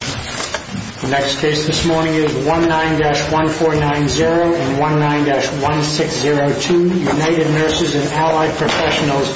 The next case this morning is 19-1490 and 19-1602 United Nurses & Allied Prof. v. NLRB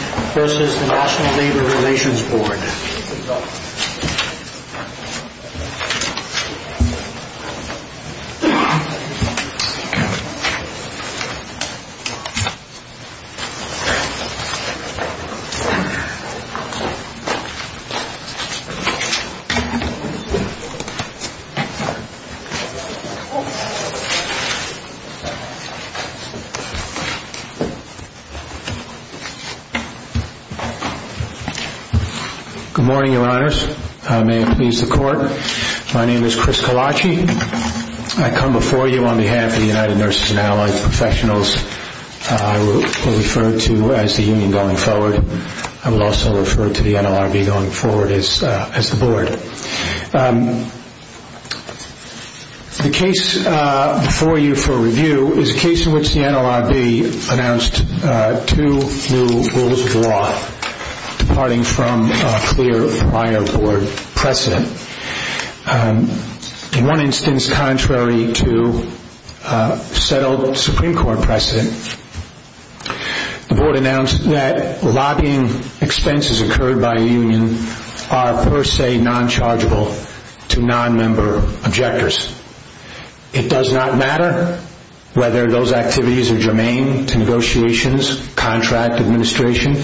Good morning, Your Honors. May it please the Court. My name is Chris Colaci. I come before you on behalf of the United Nurses & Allied Prof. I will refer to as the Union going forward. I will also refer to the NLRB going forward as the Board. The case before you for review is a case in which the NLRB announced two new rules of law departing from a clear prior Board precedent. In one instance, contrary to settled Supreme Court precedent, the Board announced that lobbying expenses occurred by Union are per se non-chargeable to non-member objectors. It does not matter whether those activities are germane to negotiations, contract administration,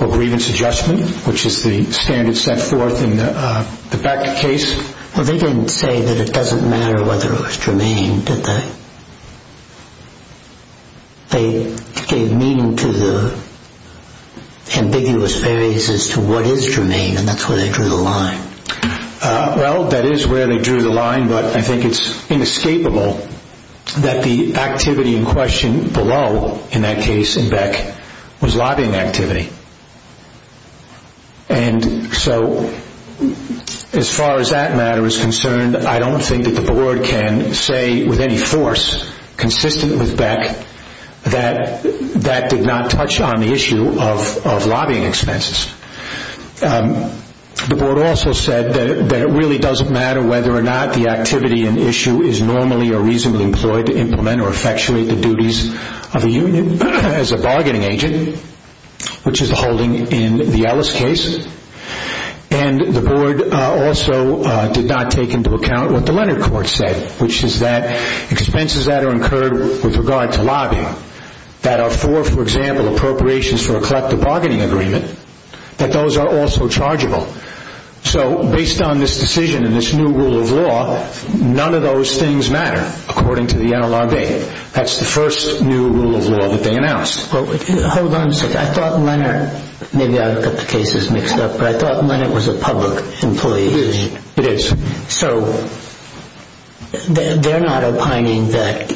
or grievance adjustment, which is the standard set forth in the Becker case. Well, they didn't say that it doesn't matter whether it was germane, did they? They gave meaning to the ambiguous theories as to what is germane, and that's where they drew the line. Well, that is where they drew the line, but I think it's inescapable that the activity in question below in that case in Beck was lobbying activity. And so, as far as that matter is concerned, I don't think that the Board can say with any force consistent with Beck that that did not touch on the issue of lobbying expenses. The Board also said that it really doesn't matter whether or not the activity in issue is normally or reasonably employed to implement or effectuate the duties of a union as a bargaining agent, which is the holding in the Ellis case. And the Board also did not take into account what the Leonard Court said, which is that expenses that are incurred with regard to lobbying that are for, for example, appropriations for a collective bargaining agreement, that those are also chargeable. So, based on this decision and this new rule of law, none of those things matter, according to the NLRB. That's the first new rule of law that they announced. Hold on a second. I thought Leonard, maybe I've got the cases mixed up, but I thought Leonard was a public employee. He is. It is. So, they're not opining that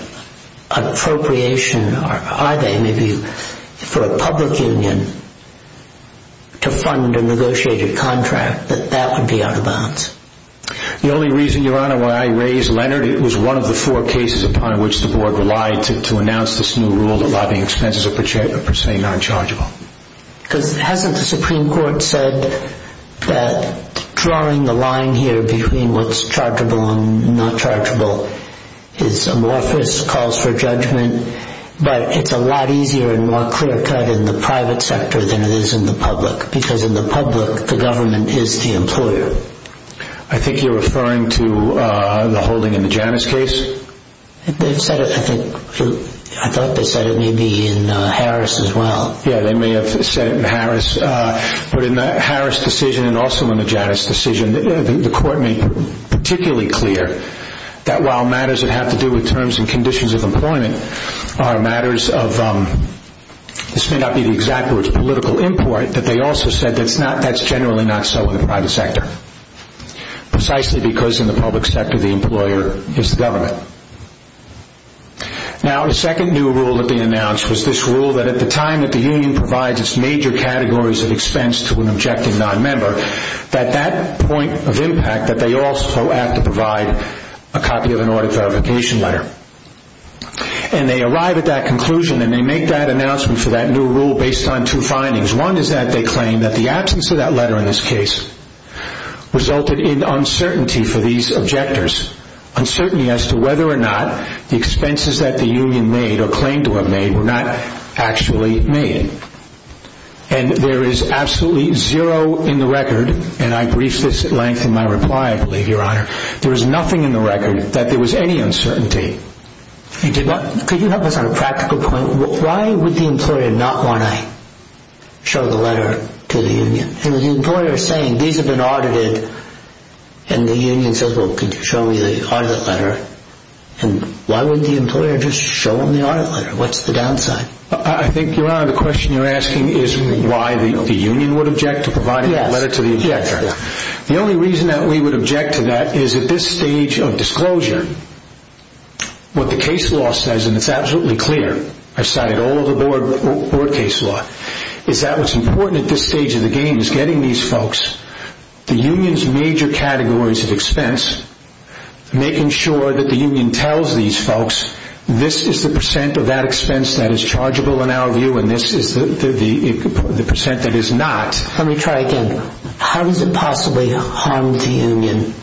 appropriation, are they? Maybe for a public union to fund a negotiated contract, that that would be out of bounds. The only reason, Your Honor, why I raise Leonard, it was one of the four cases upon which the Board relied to announce this new rule that lobbying expenses are per se non-chargeable. Because hasn't the Supreme Court said that drawing the line here between what's chargeable and not chargeable is amorphous, calls for judgment, but it's a lot easier and more clear-cut in the private sector than it is in the public, because in the public, the government is the employer. I think you're referring to the holding in the Janus case? They've said it, I think, I thought they said it may be in Harris as well. Yeah, they may have said it in Harris, but in the Harris decision and also in the Janus decision, the Court made particularly clear that while matters that have to do with terms and conditions of employment are matters of, this may not be the exact words, political import, that they also said that's generally not so in the private sector, precisely because in the public sector, the employer is the government. Now, the second new rule that they announced was this rule that at the time that the union provides its major categories of expense to an objecting non-member, that that point of impact that they also have to provide a copy of an audit verification letter. And they arrive at that conclusion and they make that announcement for that new rule based on two findings. One is that they claim that the absence of that letter in this case resulted in uncertainty for these objectors, uncertainty as to whether or not the expenses that the union made or claimed to have made were not actually made. And there is absolutely zero in the record, and I briefed this at length in my reply, I believe, Your Honor, there is nothing in the record that there was any uncertainty. Could you help us on a practical point? Why would the employer not want to show the letter to the union? And the employer is saying, these have been audited, and the union says, well, could you show me the audit letter? And why would the employer just show them the audit letter? What's the downside? I think, Your Honor, the question you're asking is why the union would object to providing that letter to the objector. The only reason that we would object to that is at this stage of disclosure, what the case law says, and it's absolutely clear, I've cited all of the board case law, is that what's important at this stage of the game is getting these folks, the union's major categories of expense, making sure that the union tells these folks, this is the percent of that expense that is chargeable in our view, and this is the percent that is not. Let me try again. How does it possibly harm the union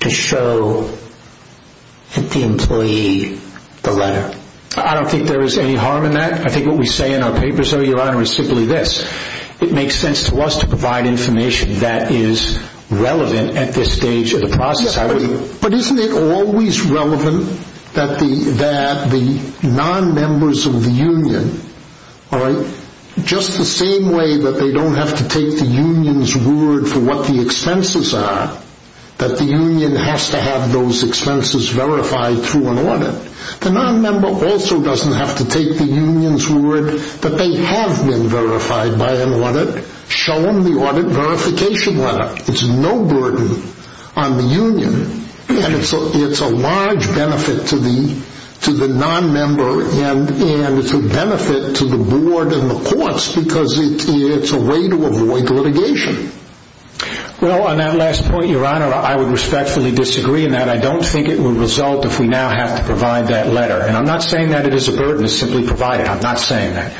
to show the employee the letter? I don't think there is any harm in that. I think what we say in our papers, Your Honor, is simply this. It makes sense to us to provide information that is relevant at this stage of the process. But isn't it always relevant that the non-members of the union, just the same way that they don't have to take the union's word for what the expenses are, that the union has to have those expenses verified through an audit. The non-member also doesn't have to take the union's word that they have been verified by an audit, show them the audit verification letter. It's no burden on the union, and it's a large benefit to the non-member, and it's a benefit to the board and the courts because it's a way to avoid litigation. Well, on that last point, Your Honor, I would respectfully disagree in that. I don't think it will result if we now have to provide that letter. And I'm not saying that it is a burden to simply provide it. I'm not saying that.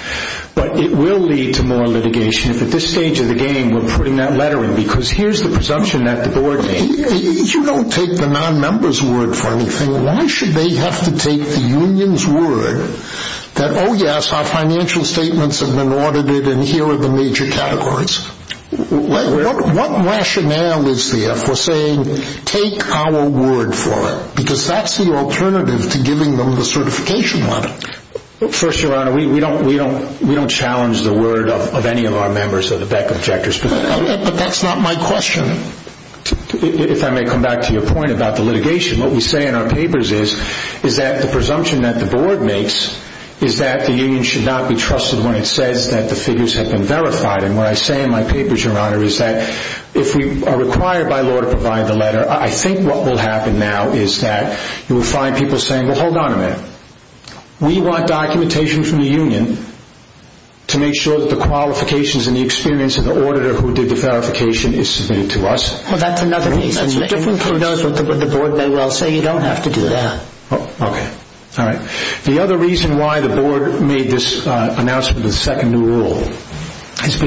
But it will lead to more litigation if at this stage of the game we're putting that letter in because here's the presumption that the board needs. If you don't take the non-member's word for anything, why should they have to take the union's word that, oh, yes, our financial statements have been audited and here are the major categories? What rationale is there for saying take our word for it? Because that's the alternative to giving them the certification letter. First, Your Honor, we don't challenge the word of any of our members or the Beck objectors, but that's not my question. If I may come back to your point about the litigation, what we say in our papers is that the presumption that the board makes is that the union should not be trusted when it says that the figures have been verified. And what I say in my papers, Your Honor, is that if we are required by law to provide the letter, I think what will happen now is that you will find people saying, well, hold on a minute. We want documentation from the union to make sure that the qualifications and the experience of the auditor who did the verification is submitted to us. Well, that's another reason. If the board may well say you don't have to do that. Okay. All right. The other reason why the board made this announcement of the second new rule is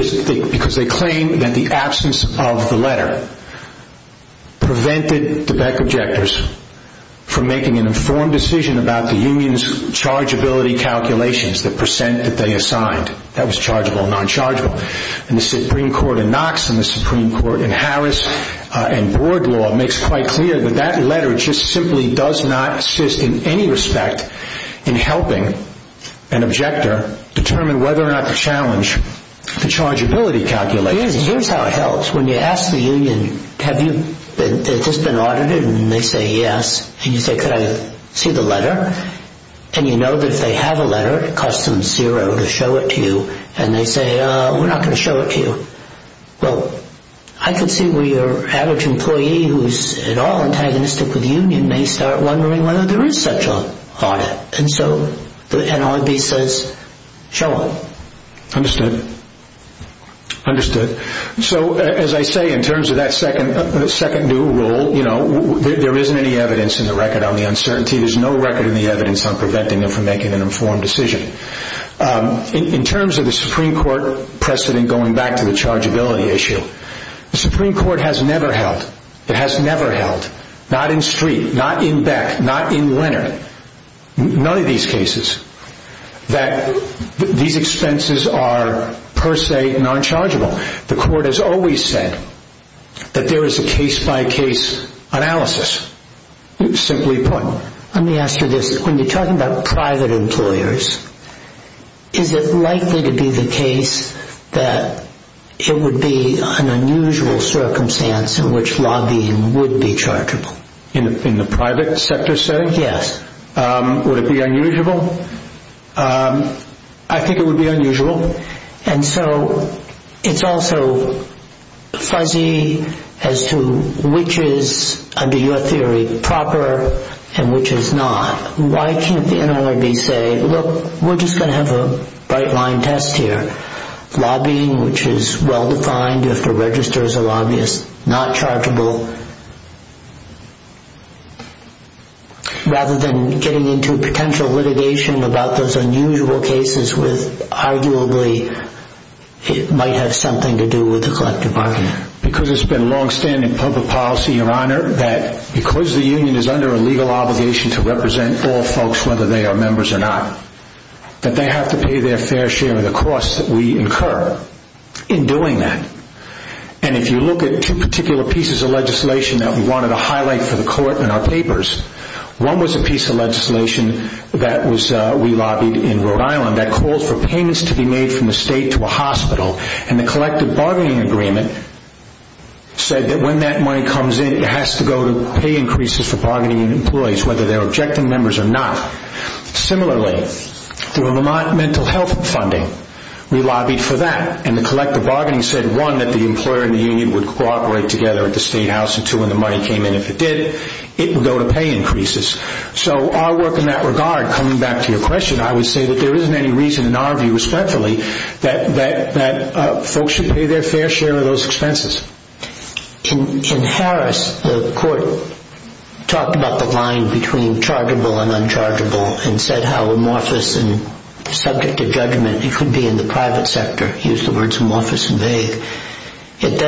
because they claim that the absence of the letter prevented the Beck objectors from making an informed decision about the union's chargeability calculations, the percent that they assigned. That was chargeable and non-chargeable. And the Supreme Court in Knox and the Supreme Court in Harris and board law makes quite clear that that letter just simply does not assist in any respect in helping an objector determine whether or not to challenge the chargeability calculations. Here's how it helps. When you ask the union, have you just been audited? And they say yes. And you say, could I see the letter? And you know that if they have a letter, it costs them zero to show it to you. And they say, we're not going to show it to you. Well, I can see where your average employee who is at all antagonistic with the union may start wondering whether there is such an audit. And so the NRB says, show it. Understood. Understood. So as I say, in terms of that second new rule, there isn't any evidence in the record on the uncertainty. There's no record in the evidence on preventing them from making an informed decision. In terms of the Supreme Court precedent going back to the chargeability issue, the Supreme Court has never held, it has never held, not in Street, not in Beck, not in Leonard, none of these cases, that these expenses are per se non-chargeable. The court has always said that there is a case-by-case analysis, simply put. Let me ask you this. When you're talking about private employers, is it likely to be the case that it would be an unusual circumstance in which lobbying would be chargeable? In the private sector setting? Yes. I think it would be unusual. And so it's also fuzzy as to which is, under your theory, proper and which is not. Why can't the NRB say, look, we're just going to have a bright-line test here. Lobbying, which is well-defined if the register is a lobbyist, not chargeable. Rather than getting into potential litigation about those unusual cases, which arguably might have something to do with the collective bargaining. Because it's been long-standing public policy, Your Honor, that because the union is under a legal obligation to represent all folks, whether they are members or not, that they have to pay their fair share of the costs that we incur in doing that. And if you look at two particular pieces of legislation that we wanted to highlight for the court in our papers, one was a piece of legislation that we lobbied in Rhode Island that called for payments to be made from the state to a hospital. And the collective bargaining agreement said that when that money comes in, it has to go to pay increases for bargaining employees, whether they're objecting members or not. Similarly, through a mental health funding, we lobbied for that. And the collective bargaining said, one, that the employer and the union would cooperate together at the state house, and two, when the money came in, if it did, it would go to pay increases. So our work in that regard, coming back to your question, I would say that there isn't any reason in our view, respectfully, that folks should pay their fair share of those expenses. In Harris, the court talked about the line between chargeable and unchargeable and said how amorphous and subject to judgment it could be in the private sector, use the words amorphous and vague, in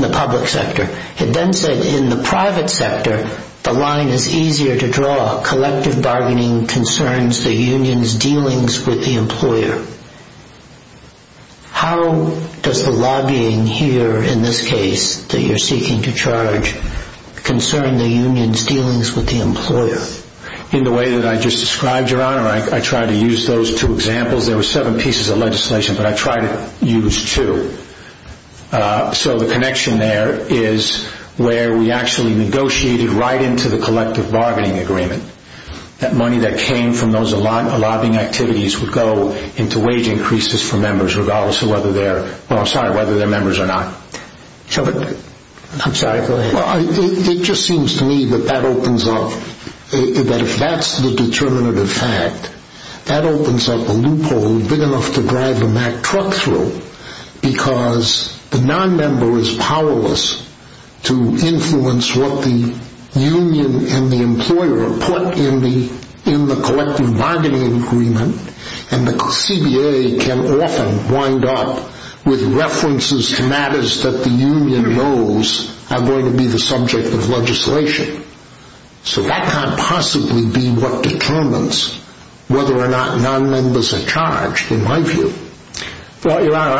the public sector. It then said in the private sector, the line is easier to draw. Collective bargaining concerns the union's dealings with the employer. How does the lobbying here, in this case, that you're seeking to charge, concern the union's dealings with the employer? In the way that I just described, Your Honor, I tried to use those two examples. There were seven pieces of legislation, but I tried to use two. So the connection there is where we actually negotiated right into the collective bargaining agreement that money that came from those lobbying activities would go into wage increases for members, regardless of whether they're members or not. I'm sorry, go ahead. It just seems to me that that opens up, that if that's the determinative fact, that opens up a loophole big enough to drive a Mack truck through because the nonmember is powerless to influence what the union and the employer put in the collective bargaining agreement and the CBA can often wind up with references to matters that the union knows are going to be the subject of legislation. So that can't possibly be what determines whether or not nonmembers are charged, in my view. Well, Your Honor,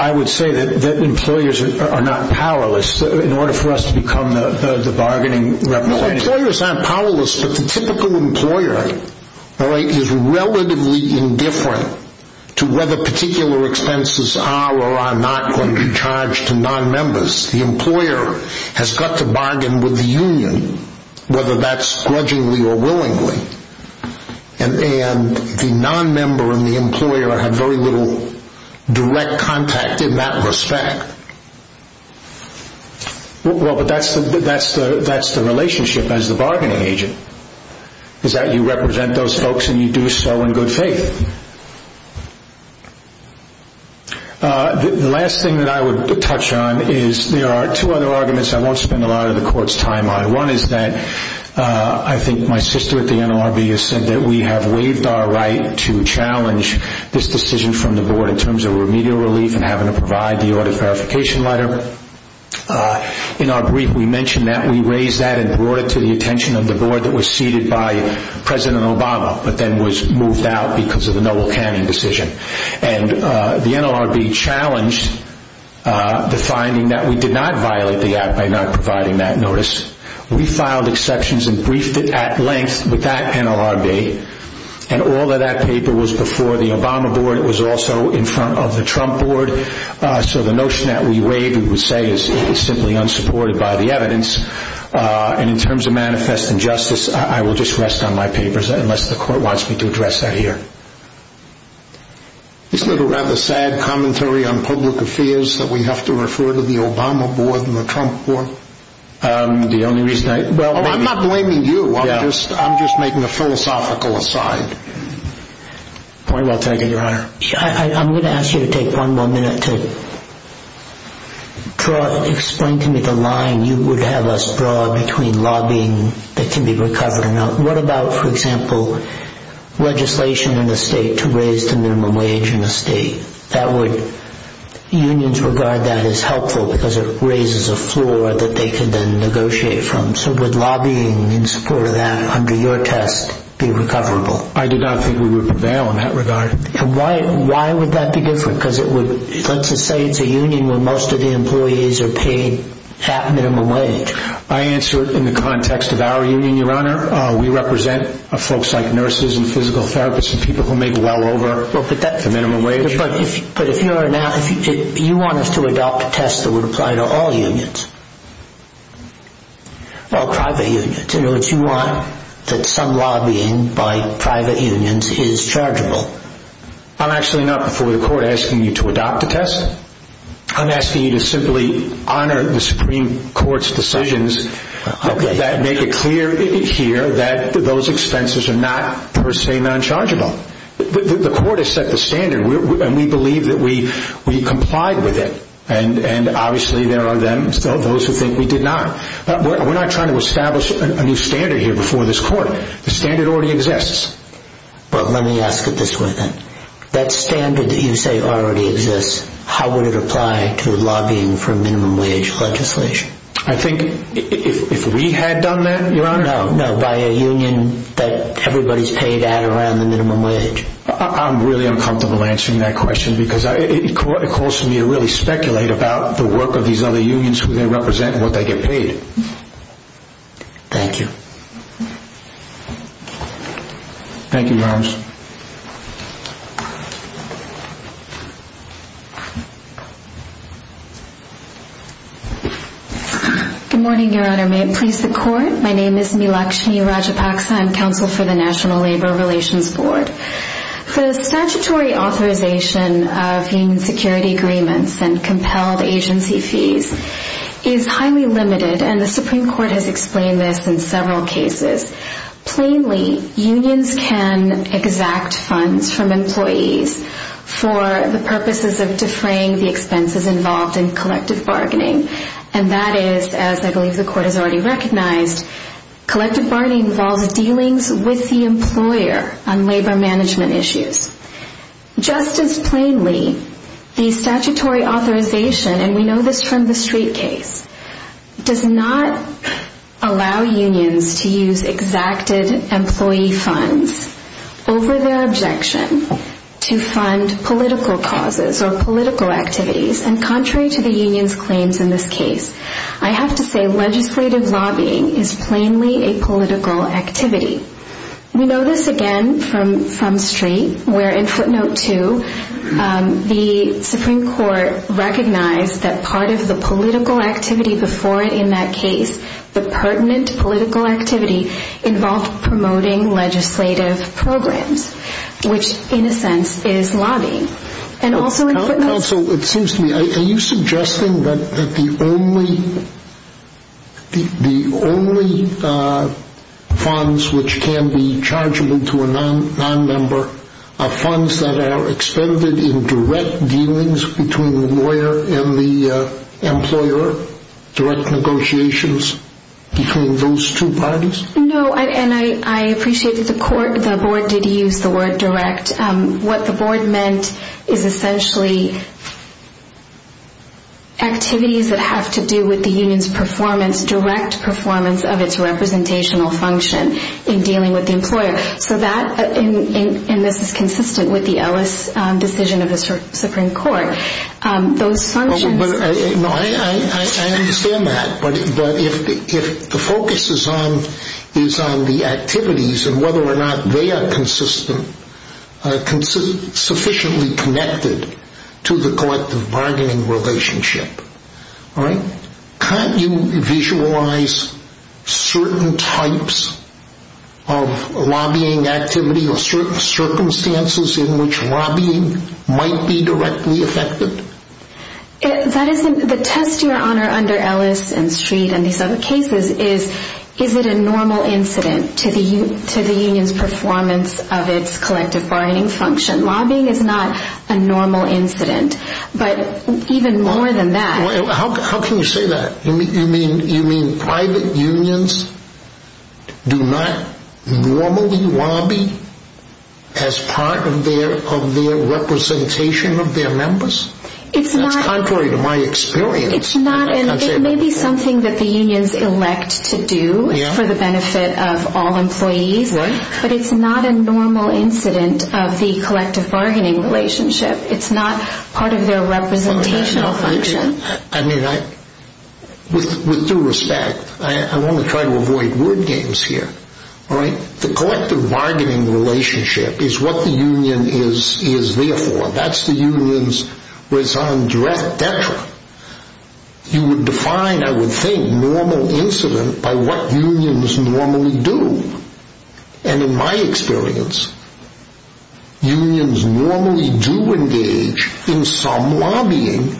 I would say that employers are not powerless in order for us to become the bargaining representative. Employers aren't powerless, but the typical employer is relatively indifferent to whether particular expenses are or are not going to be charged to nonmembers. The employer has got to bargain with the union, whether that's grudgingly or willingly, and the nonmember and the employer have very little direct contact in that respect. Well, but that's the relationship as the bargaining agent, is that you represent those folks and you do so in good faith. The last thing that I would touch on is there are two other arguments I won't spend a lot of the Court's time on. One is that I think my sister at the NLRB has said that we have waived our right to challenge this decision from the Board in terms of remedial relief and having to provide the audit verification letter. In our brief, we mentioned that. We raised that and brought it to the attention of the Board that was seated by President Obama, but then was moved out because of the Nobel canning decision. And the NLRB challenged the finding that we did not violate the Act by not providing that notice. We filed exceptions and briefed it at length with that NLRB, and all of that paper was before the Obama Board. It was also in front of the Trump Board. So the notion that we waived, we would say, is simply unsupported by the evidence. And in terms of manifest injustice, I will just rest on my papers unless the Court wants me to address that here. Isn't it a rather sad commentary on public affairs that we have to refer to the Obama Board and the Trump Board? The only reason I... I'm not blaming you. I'm just making a philosophical aside. Point well taken, Your Honor. I'm going to ask you to take one more minute to explain to me the line you would have us draw between lobbying that can be recovered and not. What about, for example, legislation in the state to raise the minimum wage in a state? Unions regard that as helpful because it raises a floor that they can then negotiate from. So would lobbying in support of that under your test be recoverable? I did not think we would prevail in that regard. Why would that be different? Because it would... Let's just say it's a union where most of the employees are paid half minimum wage. I answer in the context of our union, Your Honor. We represent folks like nurses and physical therapists and people who make well over the minimum wage. But if you're an... Do you want us to adopt a test that would apply to all unions? All private unions. Do you want that some lobbying by private unions is chargeable? I'm actually not before the court asking you to adopt a test. I'm asking you to simply honor the Supreme Court's decisions that make it clear here that those expenses are not per se nonchargeable. The court has set the standard, and we believe that we complied with it. And obviously there are those who think we did not. We're not trying to establish a new standard here before this court. The standard already exists. But let me ask you this way then. That standard that you say already exists, how would it apply to lobbying for minimum wage legislation? I think if we had done that, Your Honor... No, by a union that everybody's paid at around the minimum wage. I'm really uncomfortable answering that question because it causes me to really speculate about the work of these other unions, who they represent, and what they get paid. Thank you. Thank you, Your Honor. Good morning, Your Honor. May it please the court. My name is Milakshmi Rajapaksa. I'm counsel for the National Labor Relations Board. The statutory authorization of union security agreements and compelled agency fees is highly limited. And the Supreme Court has explained this in several cases. Plainly, unions can exact funds from employees for the purposes of defraying the expenses involved in collective bargaining. And that is, as I believe the court has already recognized, collective bargaining involves dealings with the employer on labor management issues. Just as plainly, the statutory authorization, and we know this from the Street case, does not allow unions to use exacted employee funds over their objection to fund political causes or political activities. And contrary to the union's claims in this case, I have to say legislative lobbying is plainly a political activity. We know this, again, from Street, where in footnote two, the Supreme Court recognized that part of the political activity before it in that case, the pertinent political activity involved promoting legislative programs, which, in a sense, is lobbying. Counsel, it seems to me, are you suggesting that the only funds which can be chargeable to a nonmember are funds that are expended in direct dealings between the lawyer and the employer, direct negotiations between those two parties? No, and I appreciate that the board did use the word direct. What the board meant is essentially activities that have to do with the union's performance, direct performance of its representational function in dealing with the employer. So that, and this is consistent with the Ellis decision of the Supreme Court, those functions... I understand that, but if the focus is on the activities and whether or not they are consistent, sufficiently connected to the collective bargaining relationship, can't you visualize certain types of lobbying activity or certain circumstances in which lobbying might be directly affected? The test you are on under Ellis and Street and these other cases is, is it a normal incident to the union's performance of its collective bargaining function? Lobbying is not a normal incident, but even more than that... How can you say that? You mean private unions do not normally lobby as part of their representation of their members? That's contrary to my experience. It may be something that the unions elect to do for the benefit of all employees, but it's not a normal incident of the collective bargaining relationship. It's not part of their representational function. With due respect, I want to try to avoid word games here. The collective bargaining relationship is what the union is there for. That's the union's raison d'etre. You would define, I would think, normal incident by what unions normally do. In my experience, unions normally do engage in some lobbying,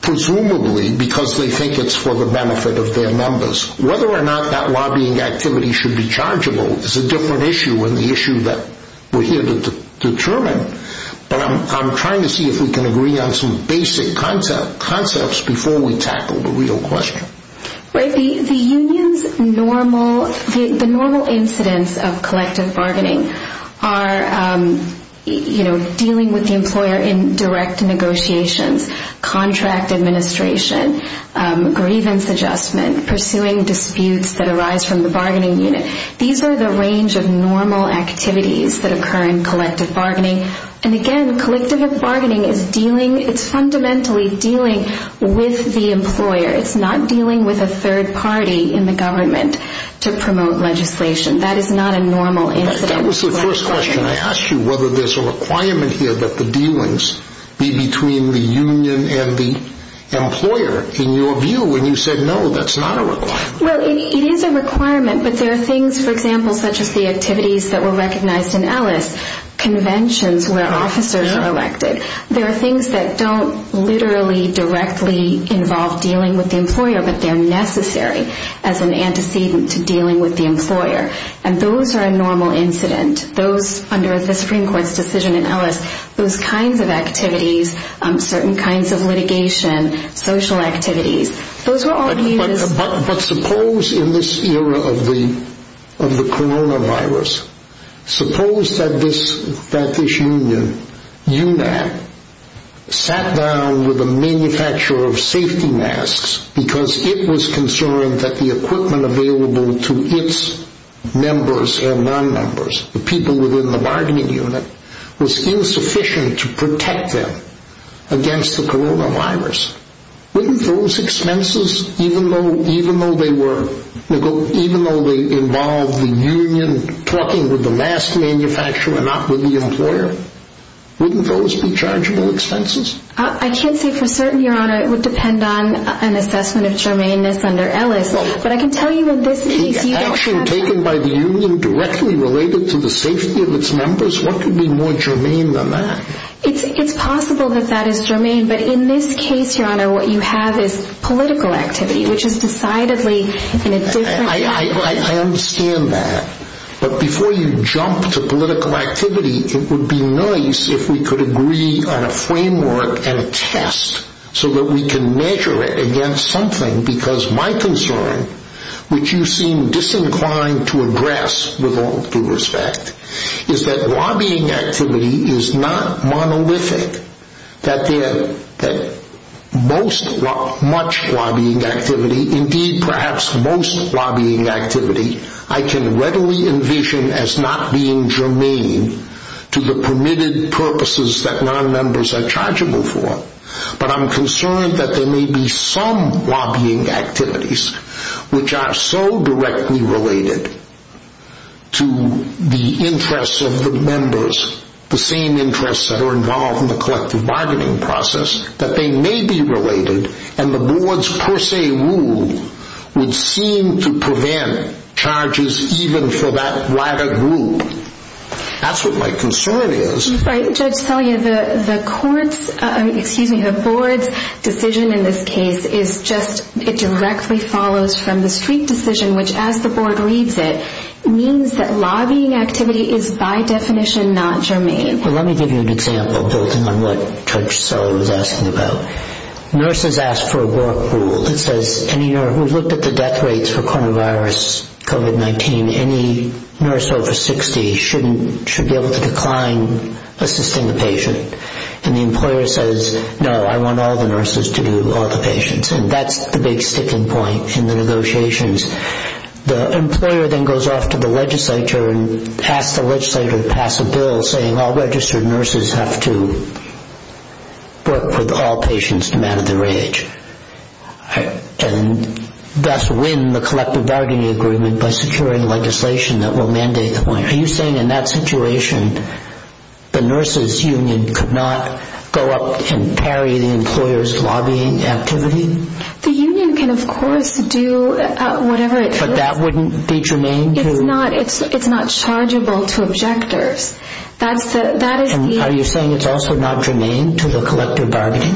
presumably because they think it's for the benefit of their members. Whether or not that lobbying activity should be chargeable is a different issue and the issue that we're here to determine. I'm trying to see if we can agree on some basic concepts before we tackle the real question. The union's normal incidence of collective bargaining are dealing with the employer in direct negotiations, contract administration, grievance adjustment, pursuing disputes that arise from the bargaining unit. These are the range of normal activities that occur in collective bargaining. Again, collective bargaining is fundamentally dealing with the employer. It's not dealing with a third party in the government to promote legislation. That is not a normal incident. That was the first question. I asked you whether there's a requirement here that the dealings be between the union and the employer. In your view, when you said no, that's not a requirement. It is a requirement, but there are things, for example, such as the activities that were recognized in Ellis, conventions where officers are elected. There are things that don't literally directly involve dealing with the employer, but they're necessary as an antecedent to dealing with the employer, and those are a normal incident. Those under the Supreme Court's decision in Ellis, those kinds of activities, certain kinds of litigation, social activities, those were all viewed as— But suppose in this era of the coronavirus, suppose that this union, UNAC, sat down with a manufacturer of safety masks because it was concerned that the equipment available to its members and non-members, the people within the bargaining unit, was insufficient to protect them against the coronavirus. Wouldn't those expenses, even though they involve the union talking with the last manufacturer, not with the employer, wouldn't those be chargeable expenses? I can't say for certain, Your Honor. It would depend on an assessment of germaneness under Ellis, but I can tell you in this case— The action taken by the union directly related to the safety of its members? What could be more germane than that? It's possible that that is germane, but in this case, Your Honor, what you have is political activity, which is decidedly in a different— I understand that, but before you jump to political activity, it would be nice if we could agree on a framework and a test so that we can measure it against something, because my concern, which you seem disinclined to address with all due respect, is that lobbying activity is not monolithic, that much lobbying activity, indeed perhaps most lobbying activity, I can readily envision as not being germane to the permitted purposes that non-members are chargeable for, but I'm concerned that there may be some lobbying activities which are so directly related to the interests of the members, the same interests that are involved in the collective bargaining process, that they may be related, and the board's per se rule would seem to prevent charges even for that latter group. That's what my concern is. Judge Selye, the board's decision in this case is just— it directly follows from the Street decision, which, as the board reads it, means that lobbying activity is by definition not germane. Let me give you an example, building on what Judge Selye was asking about. Nurses ask for a work rule that says, we've looked at the death rates for coronavirus, COVID-19, and any nurse over 60 should be able to decline assisting the patient, and the employer says, no, I want all the nurses to do all the patients, and that's the big sticking point in the negotiations. The employer then goes off to the legislature and asks the legislature to pass a bill saying, all registered nurses have to work with all patients no matter their age, and thus win the collective bargaining agreement by securing legislation that will mandate the point. Are you saying in that situation, the nurses' union could not go up and parry the employer's lobbying activity? The union can, of course, do whatever it feels— But that wouldn't be germane to— It's not chargeable to objectors. Are you saying it's also not germane to the collective bargaining?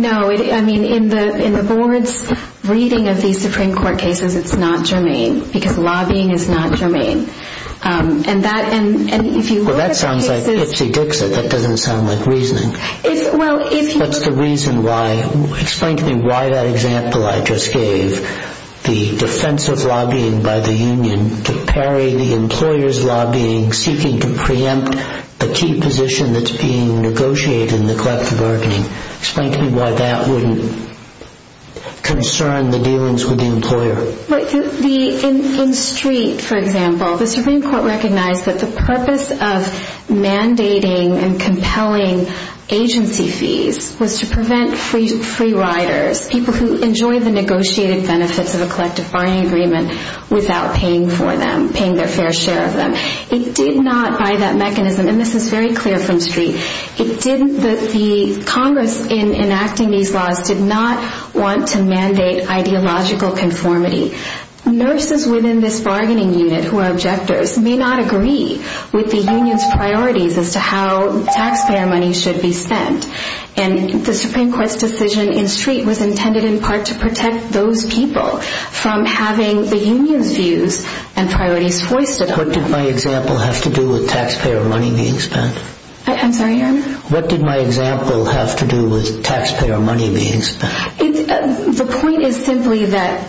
No. I mean, in the board's reading of these Supreme Court cases, it's not germane, because lobbying is not germane. And if you look at the cases— Well, that sounds like ipsy-dixy. That doesn't sound like reasoning. That's the reason why—explain to me why that example I just gave, the defensive lobbying by the union to parry the employer's lobbying, seeking to preempt a key position that's being negotiated in the collective bargaining. Explain to me why that wouldn't concern the dealings with the employer. In Street, for example, the Supreme Court recognized that the purpose of mandating and compelling agency fees was to prevent free riders, people who enjoy the negotiated benefits of a collective bargaining agreement, without paying for them, paying their fair share of them. It did not, by that mechanism—and this is very clear from Street— it didn't—the Congress, in enacting these laws, did not want to mandate ideological conformity. Nurses within this bargaining unit who are objectors may not agree with the union's priorities as to how taxpayer money should be spent. And the Supreme Court's decision in Street was intended in part to protect those people from having the union's views and priorities foisted. What did my example have to do with taxpayer money being spent? I'm sorry, your honor? What did my example have to do with taxpayer money being spent? The point is simply that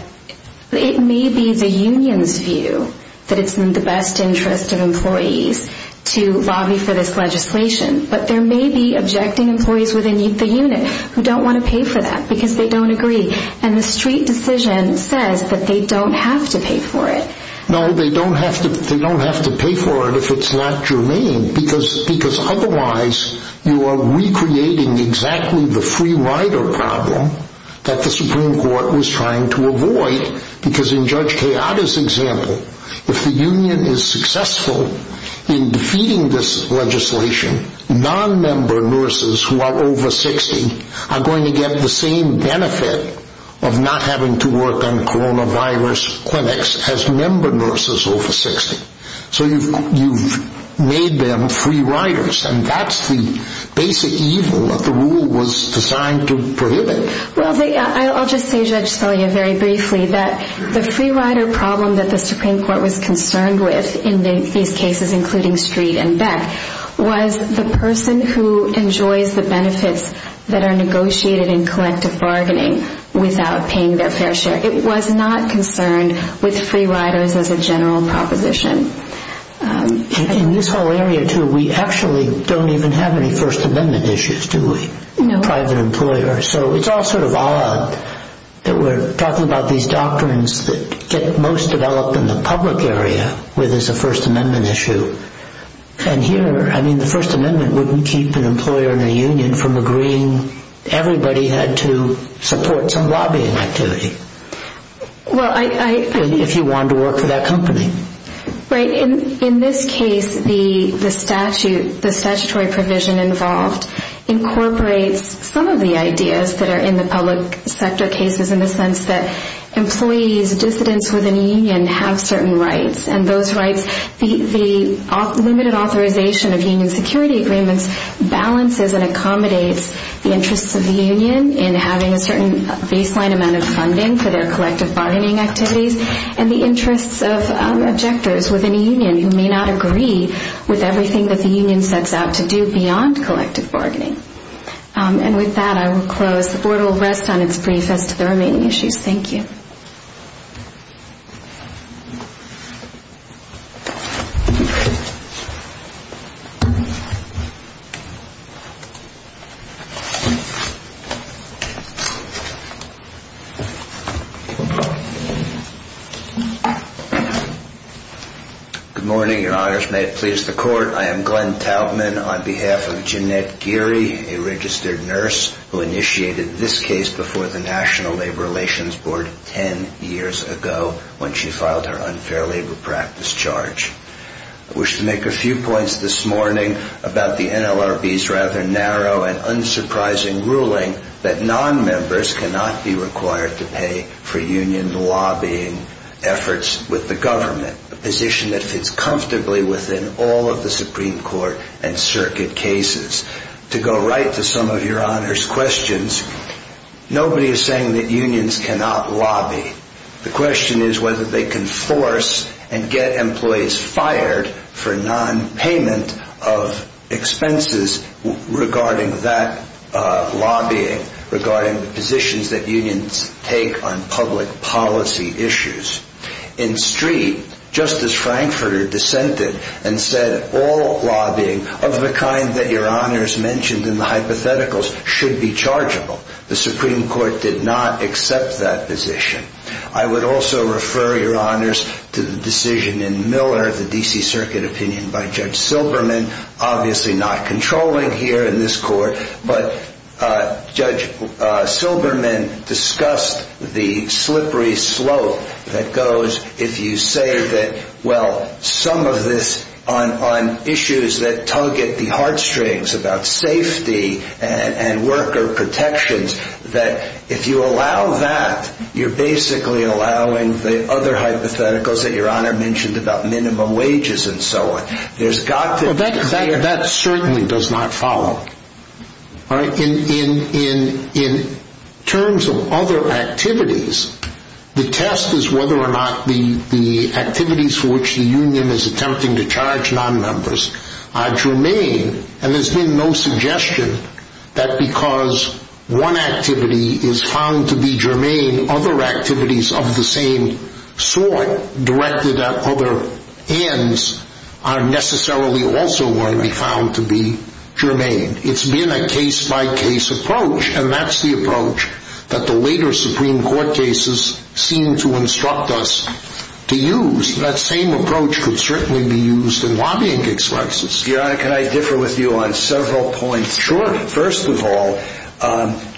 it may be the union's view that it's in the best interest of employees to lobby for this legislation, but there may be objecting employees within the unit who don't want to pay for that because they don't agree. And the Street decision says that they don't have to pay for it. No, they don't have to pay for it if it's not germane because otherwise you are recreating exactly the free rider problem that the Supreme Court was trying to avoid. Because in Judge Keada's example, if the union is successful in defeating this legislation, non-member nurses who are over 60 are going to get the same benefit of not having to work on coronavirus clinics as member nurses over 60. So you've made them free riders, and that's the basic evil that the rule was designed to prohibit. Well, I'll just say, Judge Spellia, very briefly, that the free rider problem that the Supreme Court was concerned with in these cases, including Street and Beck, was the person who enjoys the benefits that are negotiated in collective bargaining without paying their fair share. It was not concerned with free riders as a general proposition. In this whole area, too, we actually don't even have any First Amendment issues, do we? No. Private employers. So it's all sort of odd that we're talking about these doctrines that get most developed in the public area where there's a First Amendment issue. And here, I mean, the First Amendment wouldn't keep an employer in a union from agreeing everybody had to support some lobbying activity if you wanted to work for that company. Right. In this case, the statutory provision involved incorporates some of the ideas that are in the public sector cases in the sense that employees, dissidents within a union have certain rights, and those rights, the limited authorization of union security agreements, balances and accommodates the interests of the union in having a certain baseline amount of funding for their collective bargaining activities and the interests of objectors within a union who may not agree with everything that the union sets out to do beyond collective bargaining. And with that, I will close. The Board will rest on its brief as to the remaining issues. Thank you. Good morning. Your Honors, may it please the Court, I am Glenn Taubman on behalf of Jeanette Geary, a registered nurse who initiated this case before the National Labor Relations Board ten years ago when she filed her unfair labor practice charge. I wish to make a few points this morning about the NLRB's rather narrow and unsurprising ruling that nonmembers cannot be required to pay for union lobbying efforts with the government, a position that fits comfortably within all of the Supreme Court and circuit cases. To go right to some of Your Honors' questions, nobody is saying that unions cannot lobby. The question is whether they can force and get employees fired for nonpayment of expenses regarding that lobbying, regarding the positions that unions take on public policy issues. In Street, Justice Frankfurter dissented and said, of the kind that Your Honors mentioned in the hypotheticals should be chargeable. The Supreme Court did not accept that position. I would also refer Your Honors to the decision in Miller, the D.C. Circuit opinion by Judge Silberman, obviously not controlling here in this Court, but Judge Silberman discussed the slippery slope that goes if you say that, well, some of this on issues that tug at the heartstrings about safety and worker protections, that if you allow that, you're basically allowing the other hypotheticals that Your Honor mentioned about minimum wages and so on. That certainly does not follow. In terms of other activities, the test is whether or not the activities for which the union is attempting to charge nonmembers are germane, and there's been no suggestion that because one activity is found to be germane, other activities of the same sort directed at other ends are necessarily also going to be found to be germane. It's been a case-by-case approach, and that's the approach that the later Supreme Court cases seem to instruct us to use. That same approach could certainly be used in lobbying cases. Your Honor, can I differ with you on several points? Sure. First of all,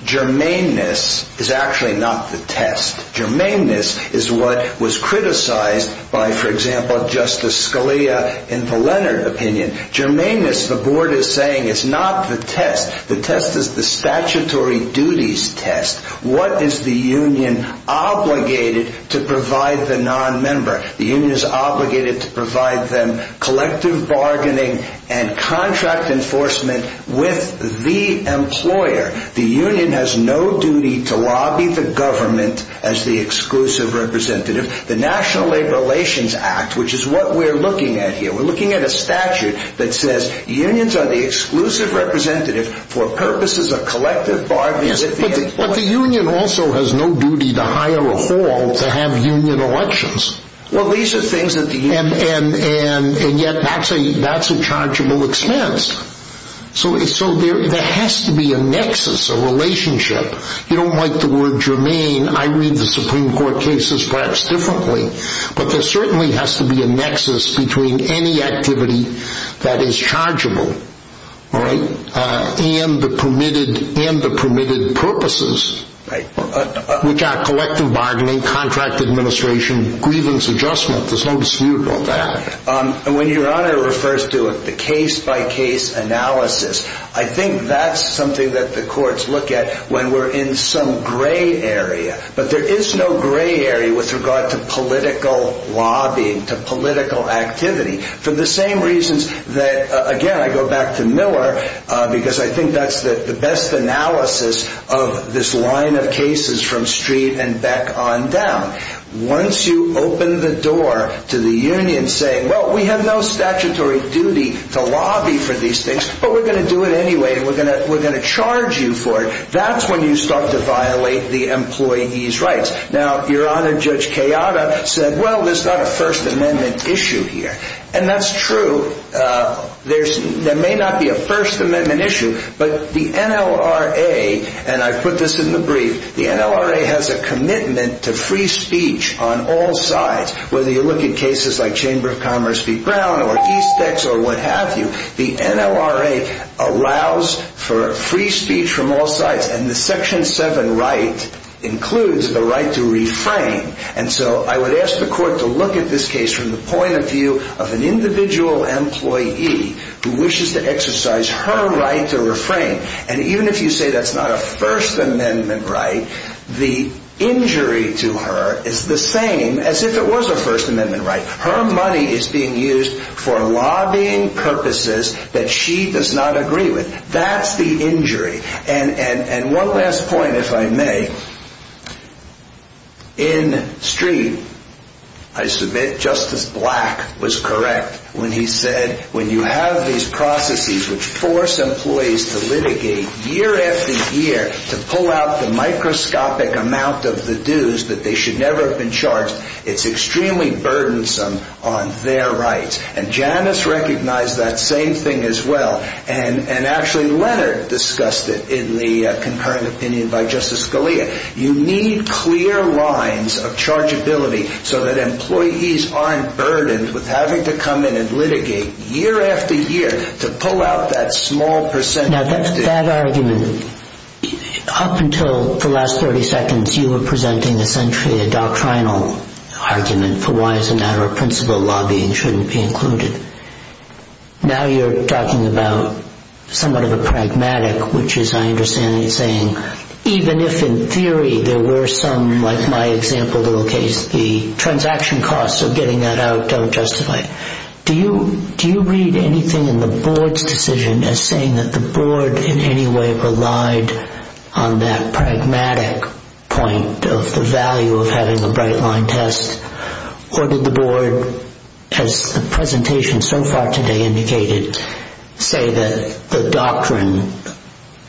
germaneness is actually not the test. Germaneness is what was criticized by, for example, Justice Scalia in the Leonard opinion. Germaneness, the Board is saying, is not the test. The test is the statutory duties test. What is the union obligated to provide the nonmember? The union is obligated to provide them collective bargaining and contract enforcement with the employer. The union has no duty to lobby the government as the exclusive representative. The National Labor Relations Act, which is what we're looking at here, we're looking at a statute that says unions are the exclusive representative for purposes of collective bargaining. But the union also has no duty to hire a hall to have union elections. Well, these are things that the union... And yet that's a chargeable expense. So there has to be a nexus, a relationship. You don't like the word germane. I read the Supreme Court cases perhaps differently. But there certainly has to be a nexus between any activity that is chargeable and the permitted purposes, which are collective bargaining, contract administration, grievance adjustment. There's no dispute about that. When Your Honor refers to the case-by-case analysis, I think that's something that the courts look at when we're in some gray area. But there is no gray area with regard to political lobbying, to political activity, for the same reasons that, again, I go back to Miller, because I think that's the best analysis of this line of cases from street and back on down. Once you open the door to the union saying, well, we have no statutory duty to lobby for these things, but we're going to do it anyway and we're going to charge you for it, that's when you start to violate the employee's rights. Now, Your Honor, Judge Kayada said, well, there's not a First Amendment issue here. And that's true. There may not be a First Amendment issue, but the NLRA, and I put this in the brief, the NLRA has a commitment to free speech on all sides. Whether you look at cases like Chamber of Commerce v. Brown or East Ex or what have you, the NLRA allows for free speech from all sides, and the Section 7 right includes the right to refrain. And so I would ask the court to look at this case from the point of view of an individual employee who wishes to exercise her right to refrain. And even if you say that's not a First Amendment right, the injury to her is the same as if it was a First Amendment right. Her money is being used for lobbying purposes that she does not agree with. That's the injury. And one last point, if I may. In Street, I submit Justice Black was correct when he said, when you have these processes which force employees to litigate year after year to pull out the microscopic amount of the dues that they should never have been charged, it's extremely burdensome on their rights. And Janice recognized that same thing as well, and actually Leonard discussed it in the concurrent opinion by Justice Scalia. You need clear lines of chargeability so that employees aren't burdened with having to come in and litigate year after year to pull out that small percentage. Now, that argument, up until the last 30 seconds, you were presenting essentially a doctrinal argument for why it's a matter of principle lobbying shouldn't be included. Now you're talking about somewhat of a pragmatic, which is, I understand, saying even if in theory there were some, like my example, little case, the transaction costs of getting that out don't justify it. Do you read anything in the board's decision as saying that the board in any way relied on that pragmatic point of the value of having a bright line test, or did the board, as the presentation so far today indicated, say that the doctrine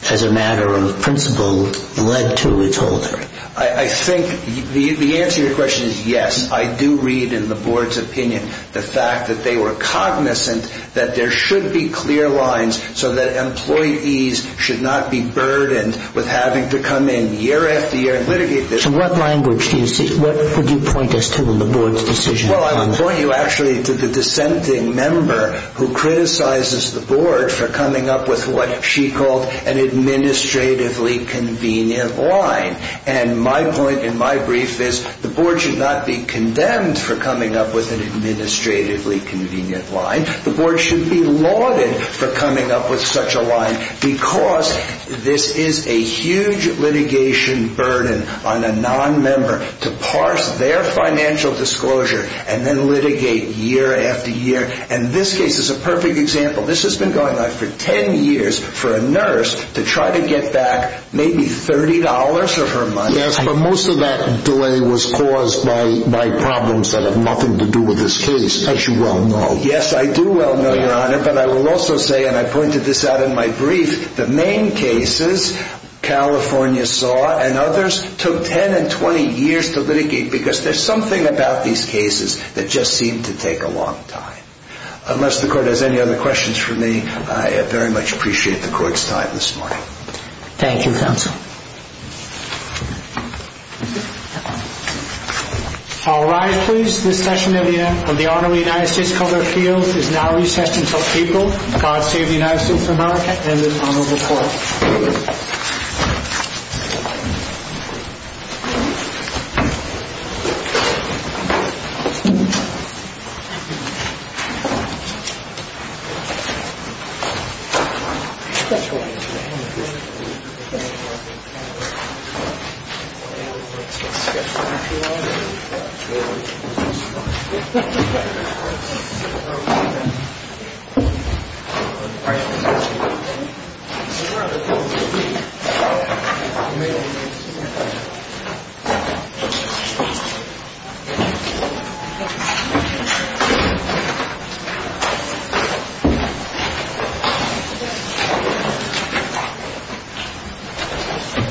as a matter of principle led to its holder? I think the answer to your question is yes. I do read in the board's opinion the fact that they were cognizant that there should be clear lines so that employees should not be burdened with having to come in year after year and litigate this. So what language do you see? What would you point us to in the board's decision? Well, I would point you actually to the dissenting member who criticizes the board for coming up with what she called an administratively convenient line. And my point in my brief is the board should not be condemned for coming up with an administratively convenient line. The board should be lauded for coming up with such a line because this is a huge litigation burden on a nonmember to parse their financial disclosure and then litigate year after year. And this case is a perfect example. This has been going on for ten years for a nurse to try to get back maybe $30 of her money. Yes, but most of that delay was caused by problems that have nothing to do with this case, as you well know. Yes, I do well know, Your Honor. But I will also say, and I pointed this out in my brief, the main cases California saw and others took 10 and 20 years to litigate because there's something about these cases that just seemed to take a long time. Unless the court has any other questions for me, I very much appreciate the court's time this morning. Thank you, counsel. All rise, please. This session of the Honorable United States Court of Appeals is now recessed until people, God save the United States of America, and the Honorable Court. Thank you, Your Honor.